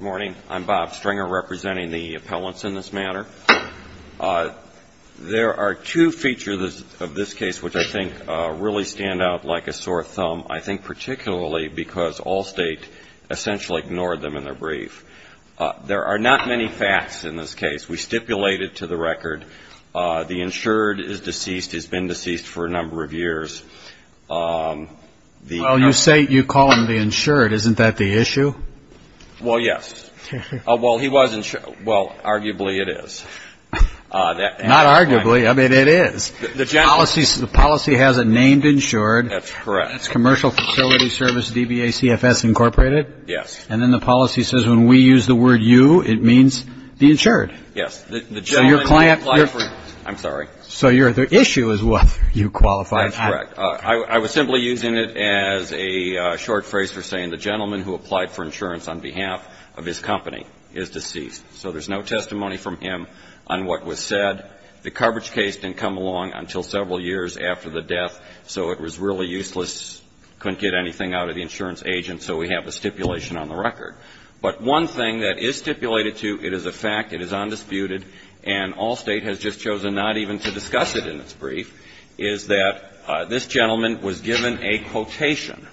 Morning, I'm Bob Stringer representing the appellants in this matter. There are two features of this case which I think really stand out like a sore thumb. I think particularly because Allstate essentially ignored them in their brief. There are not many facts in this case. We stipulated to the record the insured is deceased, has been deceased for a number of years. Well, you say you call him the insured. Isn't that the issue? Well, yes. Well, he was insured. Well, arguably it is. Not arguably. I mean, it is. The policy has it named insured. That's correct. It's Commercial Facility Service, DBA CFS Incorporated. Yes. And then the policy says when we use the word you, it means the insured. Yes. So your client... I'm sorry. So the issue is whether you qualify. That's correct. I was simply using it as a short phrase for saying the gentleman who applied for insurance on behalf of his company is deceased. So there's no testimony from him on what was said. The coverage case didn't come along until several years after the death. So it was really useless, couldn't get anything out of the insurance agent. So we have a stipulation on the record. But one thing that is stipulated to, it is a fact, it is undisputed, and all State has just chosen not even to discuss it in its brief, is that this gentleman was given a quotation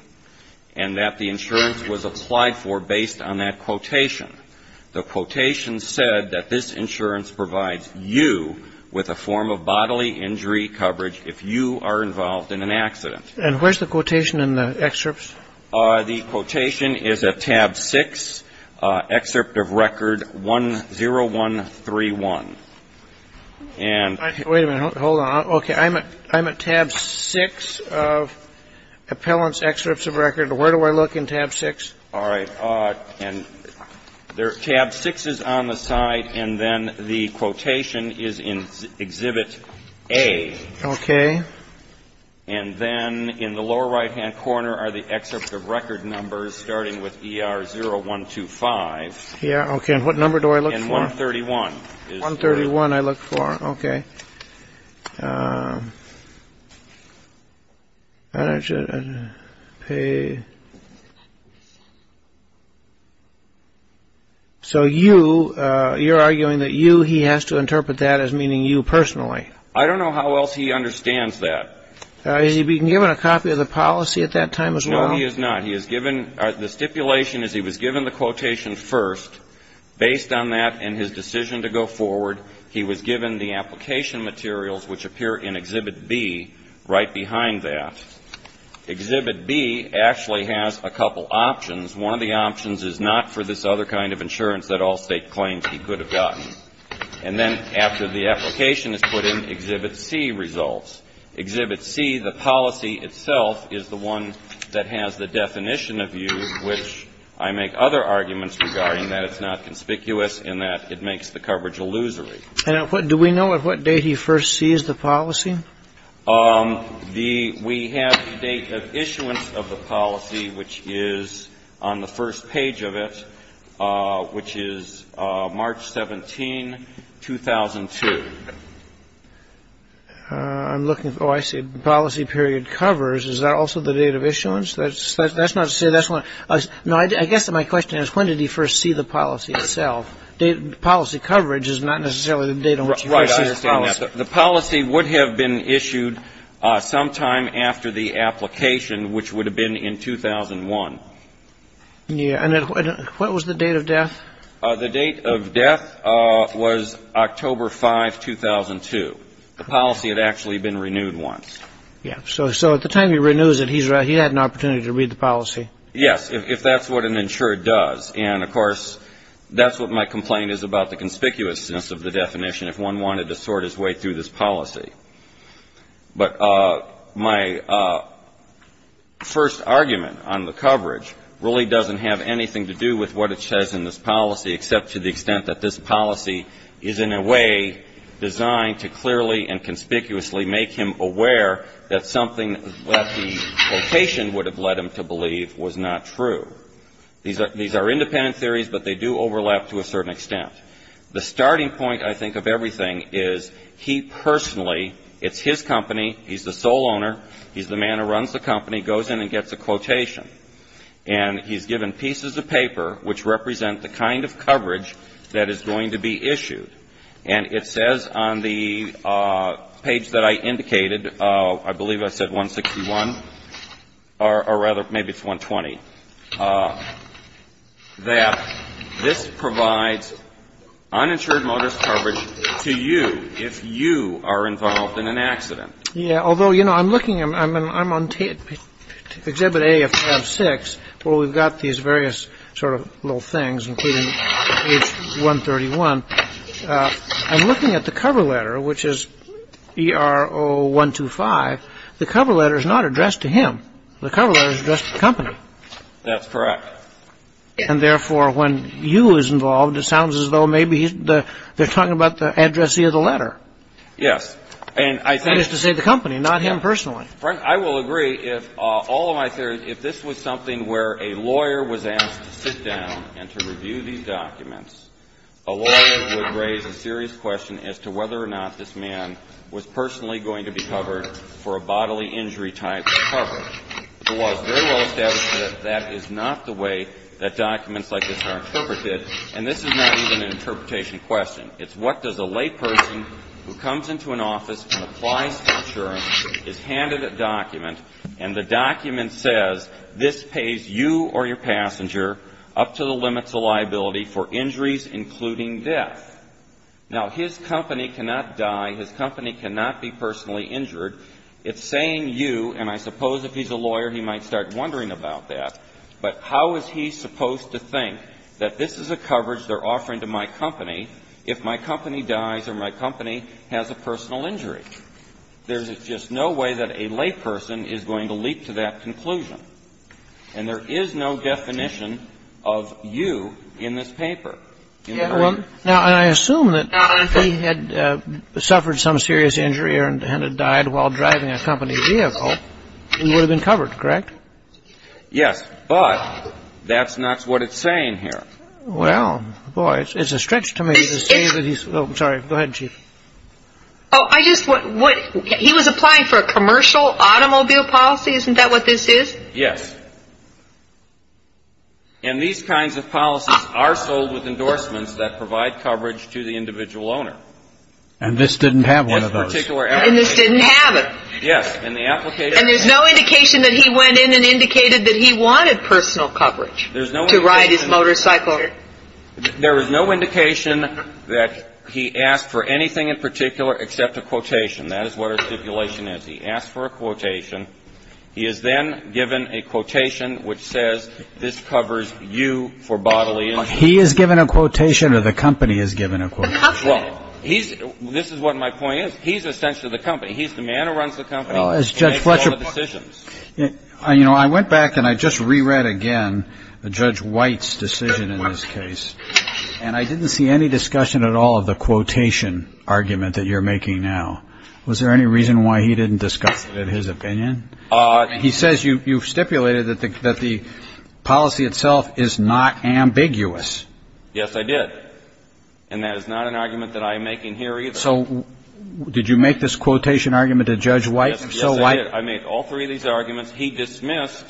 and that the insurance was applied for based on that quotation. The quotation said that this insurance provides you with a form of bodily injury coverage if you are involved in an accident. And where's the quotation in the excerpts? The quotation is at tab 6, excerpt of record 10131. And... Wait a minute. Hold on. Okay. I'm at tab 6 of appellant's excerpts of record. Where do I look in tab 6? All right. And tab 6 is on the side, and then the quotation is in exhibit A. Okay. And then in the lower right-hand corner are the excerpts of record numbers, starting with ER 0125. Yeah. Okay. And what number do I look for? And 131. 131 I look for. Okay. So you, you're arguing that you, he has to interpret that as meaning you personally. I don't know how else he understands that. Has he been given a copy of the policy at that time as well? No, he has not. He has given, the stipulation is he was given the quotation first. Based on that and his decision to go forward, he was given the application materials, which appear in exhibit B, right behind that. Exhibit B actually has a couple options. One of the options is not for this other kind of insurance that all State claims he could have gotten. And then after the application is put in, exhibit C results. Exhibit C, the policy itself, is the one that has the definition of you, which I make other arguments regarding that it's not conspicuous in that it makes the coverage illusory. And do we know at what date he first sees the policy? We have the date of issuance of the policy, which is on the first page of it, which is March 17, 2002. I'm looking, oh, I see. Policy period covers, is that also the date of issuance? That's not to say that's not, no, I guess my question is when did he first see the policy itself? Policy coverage is not necessarily the date on which he first sees the policy. The policy would have been issued sometime after the application, which would have been in 2001. Yeah. And what was the date of death? The date of death was October 5, 2002. The policy had actually been renewed once. Yeah. So at the time he renews it, he had an opportunity to read the policy. Yes, if that's what an insured does. And, of course, that's what my complaint is about, the conspicuousness of the definition. If one wanted to sort his way through this policy. But my first argument on the coverage really doesn't have anything to do with what it says in this policy, except to the extent that this policy is in a way designed to clearly and conspicuously make him aware that something that the location would have led him to believe was not true. These are independent theories, but they do overlap to a certain extent. The starting point, I think, of everything is he personally, it's his company, he's the sole owner, he's the man who runs the company, goes in and gets a quotation. And he's given pieces of paper which represent the kind of coverage that is going to be issued. And it says on the page that I indicated, I believe I said 161 or rather maybe it's 120, that this provides uninsured motorist coverage to you if you are involved in an accident. Yeah, although, you know, I'm looking, I'm on exhibit A of 5-6 where we've got these various sort of little things, including age 131. I'm looking at the cover letter, which is ERO 125. The cover letter is not addressed to him. The cover letter is addressed to the company. That's correct. And therefore, when you is involved, it sounds as though maybe they're talking about the addressee of the letter. Yes. That is to say the company, not him personally. I will agree if all of my theories, if this was something where a lawyer was asked to sit down and to review these documents, a lawyer would raise a serious question as to whether or not this man was personally going to be covered for a bodily injury type of coverage. The law is very well established that that is not the way that documents like this are interpreted, and this is not even an interpretation question. It's what does a layperson who comes into an office and applies for insurance is handed a document, and the document says this pays you or your passenger up to the limits of liability for injuries including death. Now, his company cannot die. His company cannot be personally injured. It's saying you, and I suppose if he's a lawyer, he might start wondering about that. But how is he supposed to think that this is a coverage they're offering to my company if my company dies or my company has a personal injury? There's just no way that a layperson is going to leap to that conclusion. And there is no definition of you in this paper. Now, I assume that if he had suffered some serious injury and had died while driving a company vehicle, he would have been covered, correct? Yes. But that's not what it's saying here. Well, boy, it's a stretch to me to say that he's – oh, I'm sorry. Go ahead, Chief. Oh, I just – he was applying for a commercial automobile policy? Isn't that what this is? Yes. And these kinds of policies are sold with endorsements that provide coverage to the individual owner. And this didn't have one of those. In this particular – And this didn't have it. Yes. And the application – And there's no indication that he went in and indicated that he wanted personal coverage to ride his motorcycle. There is no indication that he asked for anything in particular except a quotation. That is what our stipulation is. He asked for a quotation. He is then given a quotation which says, this covers you for bodily injury. He is given a quotation or the company is given a quotation? The company. Well, he's – this is what my point is. He's essentially the company. He's the man who runs the company. Well, as Judge Fletcher – And makes all the decisions. You know, I went back and I just re-read again Judge White's decision in this case. And I didn't see any discussion at all of the quotation argument that you're making now. Was there any reason why he didn't discuss it in his opinion? He says you've stipulated that the policy itself is not ambiguous. Yes, I did. And that is not an argument that I'm making here either. So did you make this quotation argument to Judge White? Yes, I did. I made all three of these arguments. He dismissed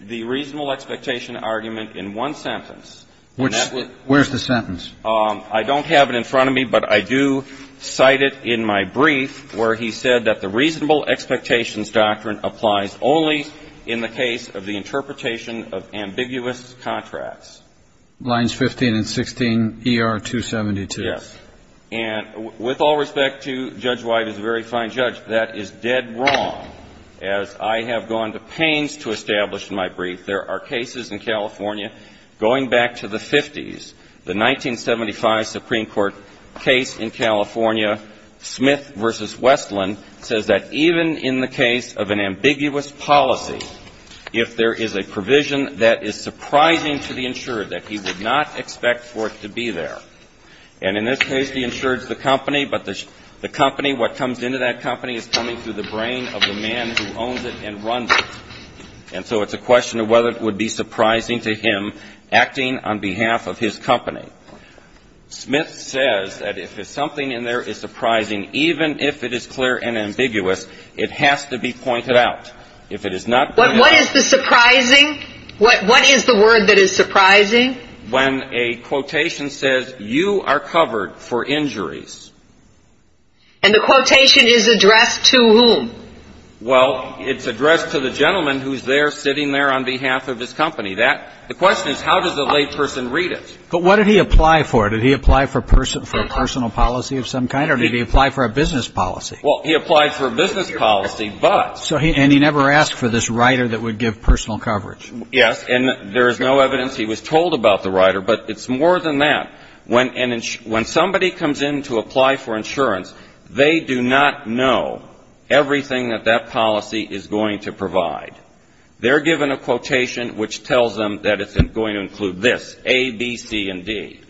the reasonable expectation argument in one sentence. And that was – Where's the sentence? I don't have it in front of me, but I do cite it in my brief where he said that the reasonable expectations doctrine applies only in the case of the interpretation of ambiguous contracts. Lines 15 and 16, ER 272. Yes. And with all respect to Judge White as a very fine judge, that is dead wrong, as I have gone to pains to establish in my brief. There are cases in California going back to the 50s. The 1975 Supreme Court case in California, Smith v. Westland, says that even in the case of an ambiguous policy, if there is a provision that is surprising to the insured, that he would not expect for it to be there. And in this case, the insured is the company, but the company, what comes into that company, is coming through the brain of the man who owns it and runs it. And so it's a question of whether it would be surprising to him acting on behalf of his company. Smith says that if something in there is surprising, even if it is clear and ambiguous, it has to be pointed out. If it is not pointed out – What is the surprising? What is the word that is surprising? When a quotation says, you are covered for injuries. And the quotation is addressed to whom? Well, it's addressed to the gentleman who is there sitting there on behalf of his company. The question is, how does the layperson read it? But what did he apply for? Did he apply for a personal policy of some kind, or did he apply for a business policy? Well, he applied for a business policy, but – And he never asked for this writer that would give personal coverage. And there is no evidence he was told about the writer. But it's more than that. When somebody comes in to apply for insurance, they do not know everything that that policy is going to provide. They're given a quotation which tells them that it's going to include this, A, B, C, and D.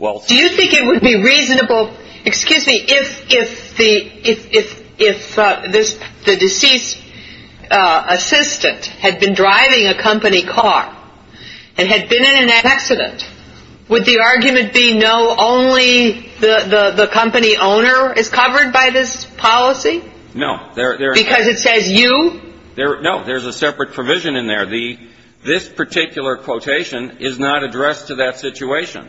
Do you think it would be reasonable – excuse me. If the deceased assistant had been driving a company car and had been in an accident, would the argument be no, only the company owner is covered by this policy? No. Because it says you? No. There's a separate provision in there. This particular quotation is not addressed to that situation.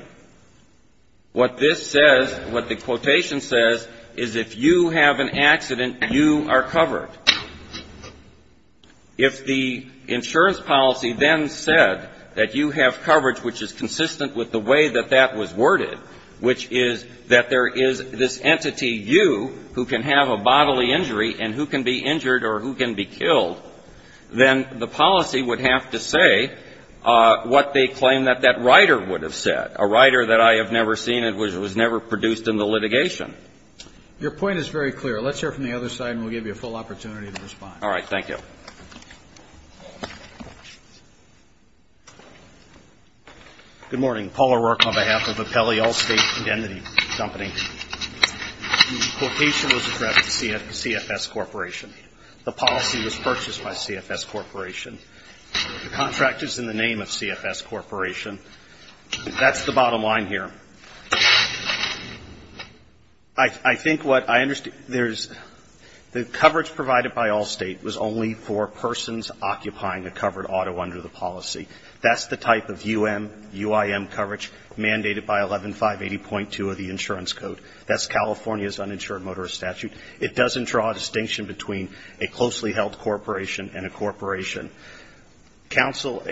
What this says, what the quotation says, is if you have an accident, you are covered. If the insurance policy then said that you have coverage which is consistent with the way that that was worded, which is that there is this entity, you, who can have a bodily injury and who can be injured or who can be killed, then the policy would have to say what they claim that that writer would have said, a writer that I have never seen and which was never produced in the litigation. Your point is very clear. Let's hear it from the other side, and we'll give you a full opportunity to respond. All right. Thank you. Good morning. Paul O'Rourke on behalf of Appelli Allstate Indentity Company. The quotation was addressed to CFS Corporation. The policy was purchased by CFS Corporation. The contract is in the name of CFS Corporation. That's the bottom line here. I think what I understand? There's the coverage provided by Allstate was only for persons occupying a covered auto under the policy. That's the type of UM, UIM coverage mandated by 11-580.2 of the insurance code. That's California's uninsured motorist statute. It doesn't draw a distinction between a closely held corporation and a corporation. Counsel,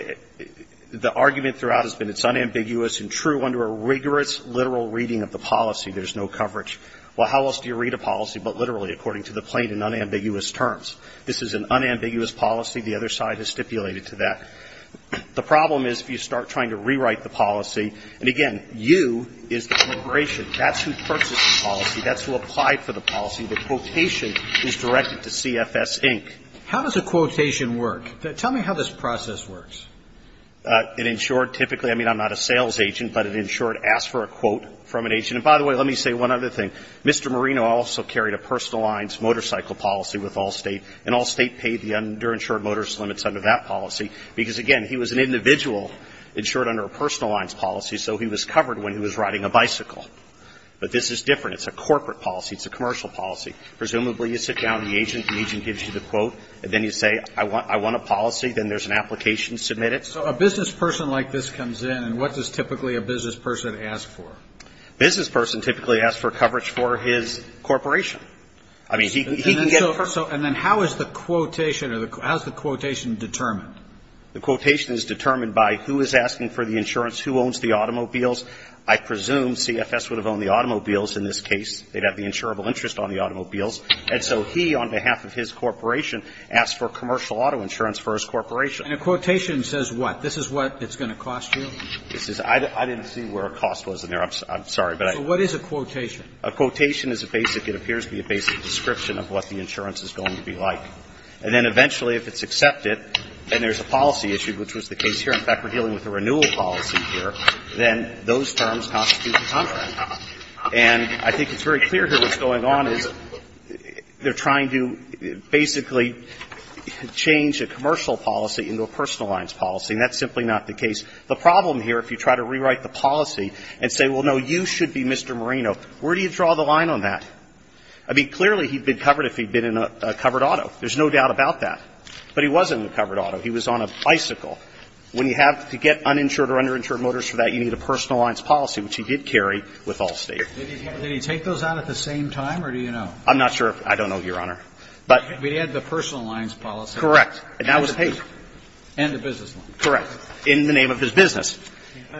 the argument throughout has been it's unambiguous and true under a rigorous literal reading of the policy. There's no coverage. Well, how else do you read a policy but literally according to the plain and unambiguous terms? This is an unambiguous policy. The other side has stipulated to that. The problem is if you start trying to rewrite the policy, and, again, U is the corporation. That's who purchased the policy. That's who applied for the policy. The quotation is directed to CFS, Inc. How does a quotation work? Tell me how this process works. In short, typically, I mean, I'm not a sales agent, but in short, ask for a quote from an agent. And, by the way, let me say one other thing. Mr. Marino also carried a personal lines motorcycle policy with Allstate, and Allstate paid the underinsured motorist limits under that policy because, again, he was an individual insured under a personal lines policy, so he was covered when he was riding a bicycle. But this is different. It's a corporate policy. It's a commercial policy. Presumably, you sit down with the agent. The agent gives you the quote, and then you say, I want a policy. Then there's an application. Submit it. So a business person like this comes in, and what does typically a business person ask for? A business person typically asks for coverage for his corporation. I mean, he can get coverage. And then how is the quotation or how is the quotation determined? The quotation is determined by who is asking for the insurance, who owns the automobiles. I presume CFS would have owned the automobiles in this case. They'd have the insurable interest on the automobiles. And so he, on behalf of his corporation, asks for commercial auto insurance for his corporation. And a quotation says what? This is what it's going to cost you? This is – I didn't see where a cost was in there. I'm sorry, but I – So what is a quotation? A quotation is a basic – it appears to be a basic description of what the insurance is going to be like. And then eventually, if it's accepted, then there's a policy issue, which was the case policy here, then those terms constitute the contract. And I think it's very clear here what's going on is they're trying to basically change a commercial policy into a personal lines policy, and that's simply not the case. The problem here, if you try to rewrite the policy and say, well, no, you should be Mr. Marino, where do you draw the line on that? I mean, clearly he'd been covered if he'd been in a covered auto. There's no doubt about that. But he wasn't in a covered auto. He was on a bicycle. When you have to get uninsured or underinsured motors for that, you need a personal lines policy, which he did carry with Allstate. Did he take those out at the same time, or do you know? I'm not sure. I don't know, Your Honor. But he had the personal lines policy. Correct. And that was his. And the business line. Correct. In the name of his business.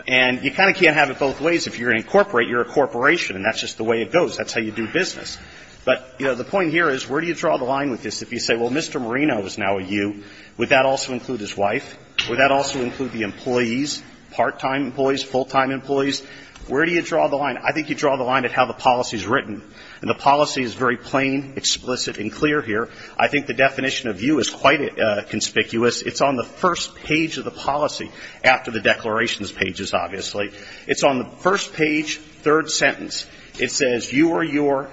And you kind of can't have it both ways. If you're an incorporate, you're a corporation, and that's just the way it goes. That's how you do business. But, you know, the point here is where do you draw the line with this? If you say, well, Mr. Marino is now a U, would that also include his wife? Would that also include the employees, part-time employees, full-time employees? Where do you draw the line? I think you draw the line at how the policy is written. And the policy is very plain, explicit, and clear here. I think the definition of U is quite conspicuous. It's on the first page of the policy, after the declarations pages, obviously. It's on the first page, third sentence. It says, you are your.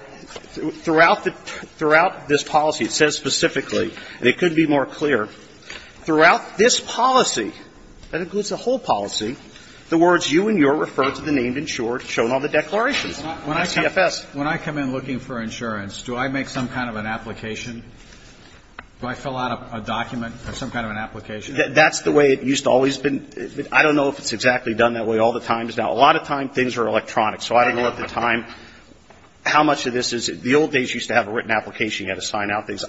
Throughout this policy, it says specifically, and it could be more clear, throughout this policy, that includes the whole policy, the words you and your refer to the named insured shown on the declarations. CFS. When I come in looking for insurance, do I make some kind of an application? Do I fill out a document or some kind of an application? That's the way it used to always been. I don't know if it's exactly done that way all the times. Now, a lot of times, things are electronic. So I don't know at the time how much of this is the old days used to have a written application. You had to sign out things,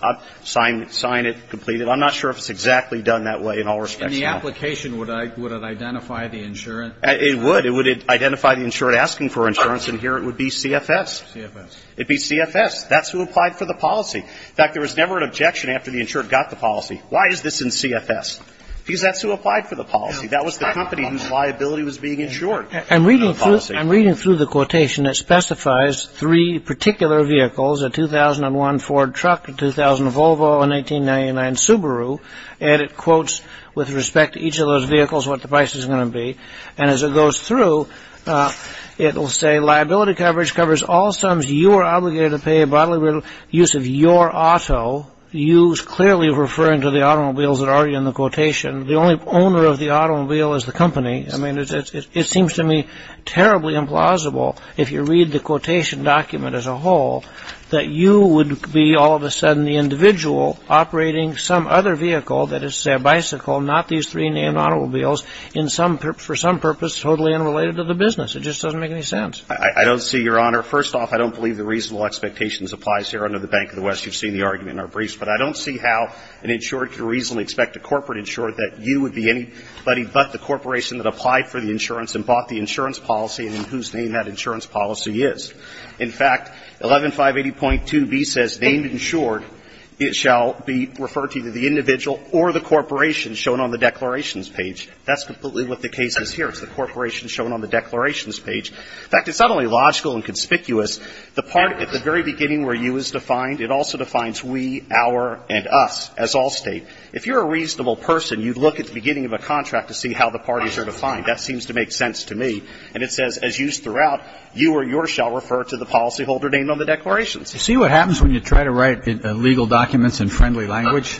sign it, complete it. I'm not sure if it's exactly done that way in all respects. In the application, would it identify the insurance? It would. It would identify the insured asking for insurance, and here it would be CFS. CFS. It'd be CFS. That's who applied for the policy. In fact, there was never an objection after the insured got the policy. Why is this in CFS? Because that's who applied for the policy. That was the company whose liability was being insured. I'm reading through the quotation that specifies three particular vehicles, a 2001 Ford truck, a 2000 Volvo, and a 1899 Subaru. And it quotes with respect to each of those vehicles what the price is going to be. And as it goes through, it will say, liability coverage covers all sums you are obligated to pay bodily use of your auto. You's clearly referring to the automobiles that are already in the quotation. The only owner of the automobile is the company. I mean, it seems to me terribly implausible if you read the quotation document as a whole, that you would be all of a sudden the individual operating some other vehicle, that is, a bicycle, not these three named automobiles, in some purpose, for some purpose totally unrelated to the business. It just doesn't make any sense. I don't see, Your Honor. First off, I don't believe the reasonable expectations applies here under the Bank of the West. You've seen the argument in our briefs. But I don't see how an insured can reasonably expect a corporate insured that you would be anybody but the corporation that applied for the insurance and bought the insurance policy and in whose name that insurance policy is. In fact, 11580.2b says named insured, it shall be referred to the individual or the corporation shown on the declarations page. That's completely what the case is here. It's the corporation shown on the declarations page. In fact, it's not only logical and conspicuous. The part at the very beginning where you is defined, it also defines we, our, and us as Allstate. If you're a reasonable person, you'd look at the beginning of a contract to see how the parties are defined. That seems to make sense to me. And it says, as used throughout, you or your shall refer to the policyholder named on the declarations. You see what happens when you try to write legal documents in friendly language?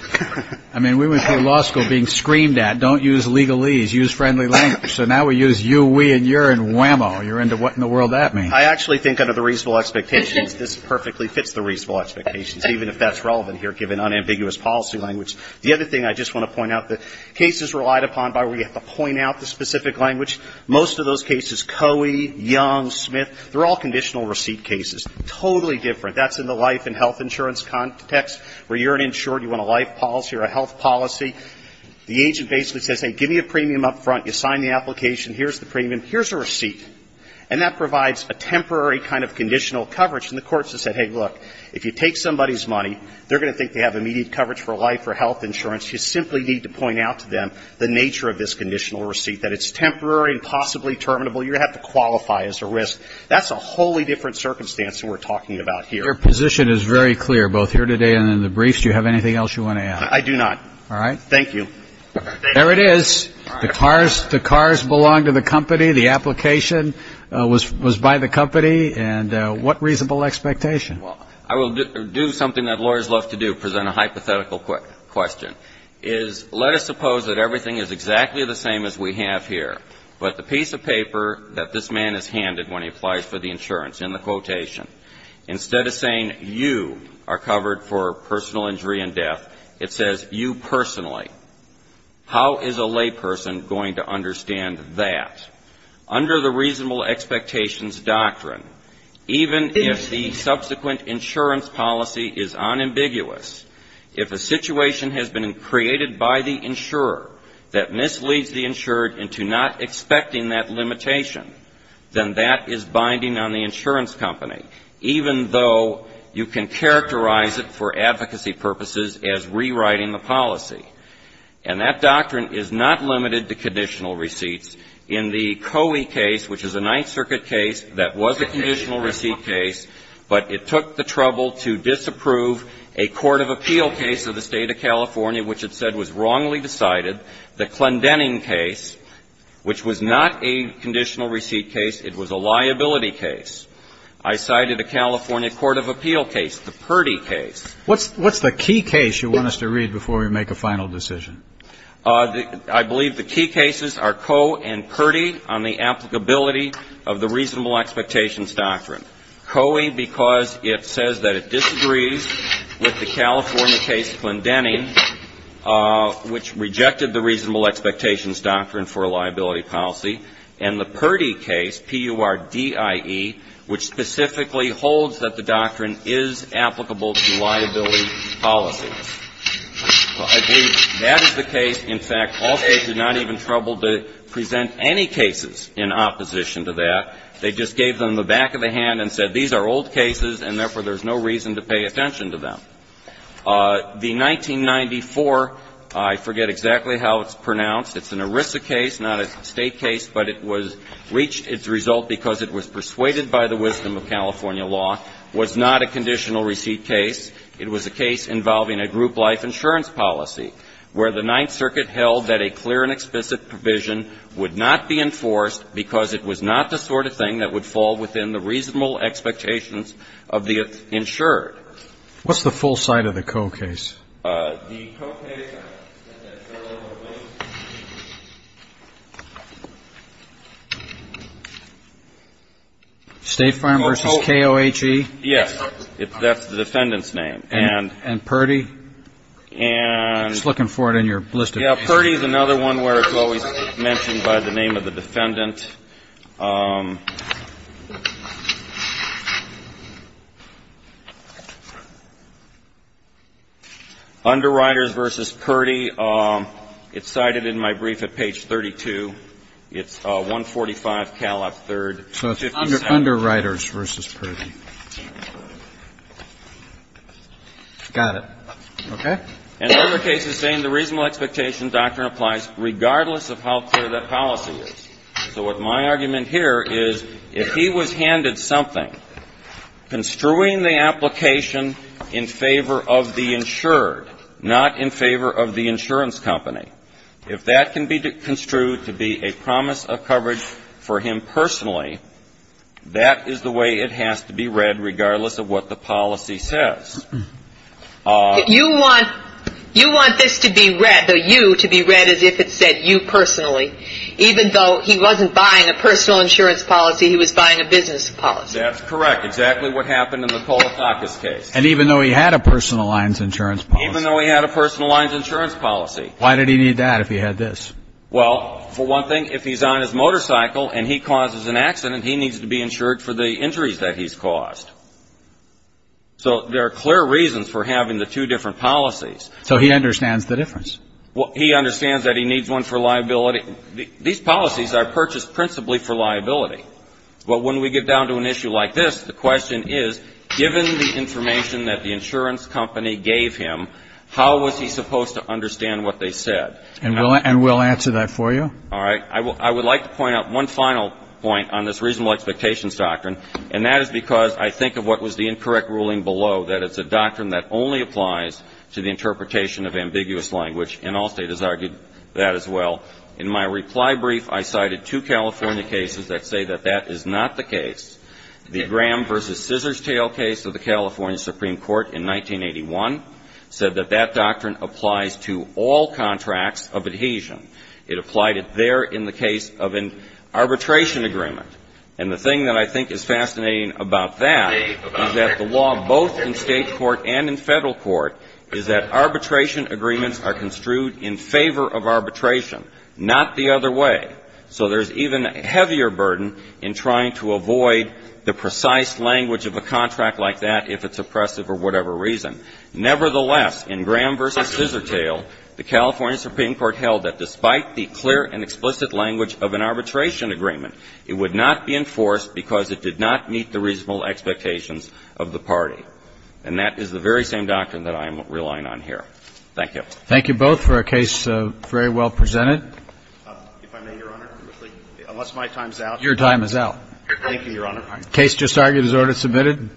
I mean, we went through law school being screamed at, don't use legalese, use friendly language. So now we use you, we, and you're in whammo. You're into what in the world that means. I actually think under the reasonable expectations, this perfectly fits the reasonable expectations, even if that's relevant here given unambiguous policy language. The other thing I just want to point out, the case is relied upon by where you have to point out the specific language. Most of those cases, Coey, Young, Smith, they're all conditional receipt cases. Totally different. That's in the life and health insurance context where you're an insured, you want a life policy or a health policy. The agent basically says, hey, give me a premium up front. You sign the application. Here's the premium. Here's a receipt. And that provides a temporary kind of conditional coverage. And the courts have said, hey, look, if you take somebody's money, they're going to think they have immediate coverage for life or health insurance. You simply need to point out to them the nature of this conditional receipt, that it's temporary and possibly terminable. You're going to have to qualify as a risk. That's a wholly different circumstance than we're talking about here. Your position is very clear, both here today and in the briefs. Do you have anything else you want to add? I do not. All right. Thank you. There it is. The cars belong to the company. The application was by the company. And what reasonable expectation? Well, I will do something that lawyers love to do, present a hypothetical question. Let us suppose that everything is exactly the same as we have here. But the piece of paper that this man is handed when he applies for the insurance, in the quotation, instead of saying you are covered for personal injury and death, it says you personally. How is a layperson going to understand that? Under the reasonable expectations doctrine, even if the subsequent insurance policy is unambiguous, if a situation has been created by the insurer that misleads the insured into not expecting that limitation, then that is binding on the insurance company, even though you can characterize it for advocacy purposes as rewriting the policy. And that doctrine is not limited to conditional receipts. In the Coey case, which is a Ninth Circuit case, that was a conditional receipt case, but it took the trouble to disapprove a court of appeal case of the State of California, which it said was wrongly decided, the Clendenning case, which was not a conditional receipt case. It was a liability case. I cited a California court of appeal case, the Purdy case. What's the key case you want us to read before we make a final decision? I believe the key cases are Coe and Purdy on the applicability of the reasonable expectations doctrine. Coe, because it says that it disagrees with the California case Clendenning, which rejected the reasonable expectations doctrine for a liability policy, and the Purdy case, P-U-R-D-I-E, which specifically holds that the doctrine is applicable to liability policies. I believe that is the case. In fact, all States did not even trouble to present any cases in opposition to that. They just gave them the back of the hand and said, these are old cases and, therefore, there's no reason to pay attention to them. The 1994, I forget exactly how it's pronounced, it's an ERISA case, not a State case, but it was reached, its result, because it was persuaded by the wisdom of California law, was not a conditional receipt case. It was a case involving a group life insurance policy, where the Ninth Circuit held that a clear and explicit provision would not be enforced because it was not the sort of thing that would fall within the reasonable expectations of the insured. What's the full site of the Coe case? The Coe case. State Farm v. K-O-H-E? Yes. That's the defendant's name. And Purdy? And. I was looking for it in your list of cases. Purdy is another one where it's always mentioned by the name of the defendant. Underwriters v. Purdy. It's cited in my brief at page 32. It's 145 Calop III. So it's Underwriters v. Purdy. Got it. Okay. In other cases saying the reasonable expectation doctrine applies regardless of how clear that policy is. So what my argument here is, if he was handed something construing the application in favor of the insured, not in favor of the insurance company, if that can be construed to be a promise of coverage for him personally, that is the way it has to be read regardless of what the policy says. You want this to be read, the you, to be read as if it said you personally. Even though he wasn't buying a personal insurance policy, he was buying a business policy. That's correct. Exactly what happened in the Coletakis case. And even though he had a personal insurance policy. Even though he had a personal insurance policy. Why did he need that if he had this? Well, for one thing, if he's on his motorcycle and he causes an accident, he needs to be insured for the injuries that he's caused. So there are clear reasons for having the two different policies. So he understands the difference. He understands that he needs one for liability. These policies are purchased principally for liability. But when we get down to an issue like this, the question is, given the information that the insurance company gave him, how was he supposed to understand what they said? And we'll answer that for you. All right. I would like to point out one final point on this reasonable expectations doctrine, and that is because I think of what was the incorrect ruling below, that it's a doctrine that only applies to the interpretation of ambiguous language. And Allstate has argued that as well. In my reply brief, I cited two California cases that say that that is not the case. The Graham v. Scissor's Tale case of the California Supreme Court in 1981 said that that doctrine applies to all contracts of adhesion. It applied it there in the case of an arbitration agreement. And the thing that I think is fascinating about that is that the law both in state court and in federal court is that arbitration agreements are construed in favor of arbitration, not the other way. So there's even a heavier burden in trying to avoid the precise language of a contract like that if it's oppressive for whatever reason. Nevertheless, in Graham v. Scissor's Tale, the California Supreme Court held that despite the clear and explicit language of an arbitration agreement, it would not be enforced because it did not meet the reasonable expectations of the party. And that is the very same doctrine that I am relying on here. Thank you. Thank you both for a case very well presented. If I may, Your Honor, unless my time is out. Your time is out. Thank you, Your Honor. The case just argued is order submitted.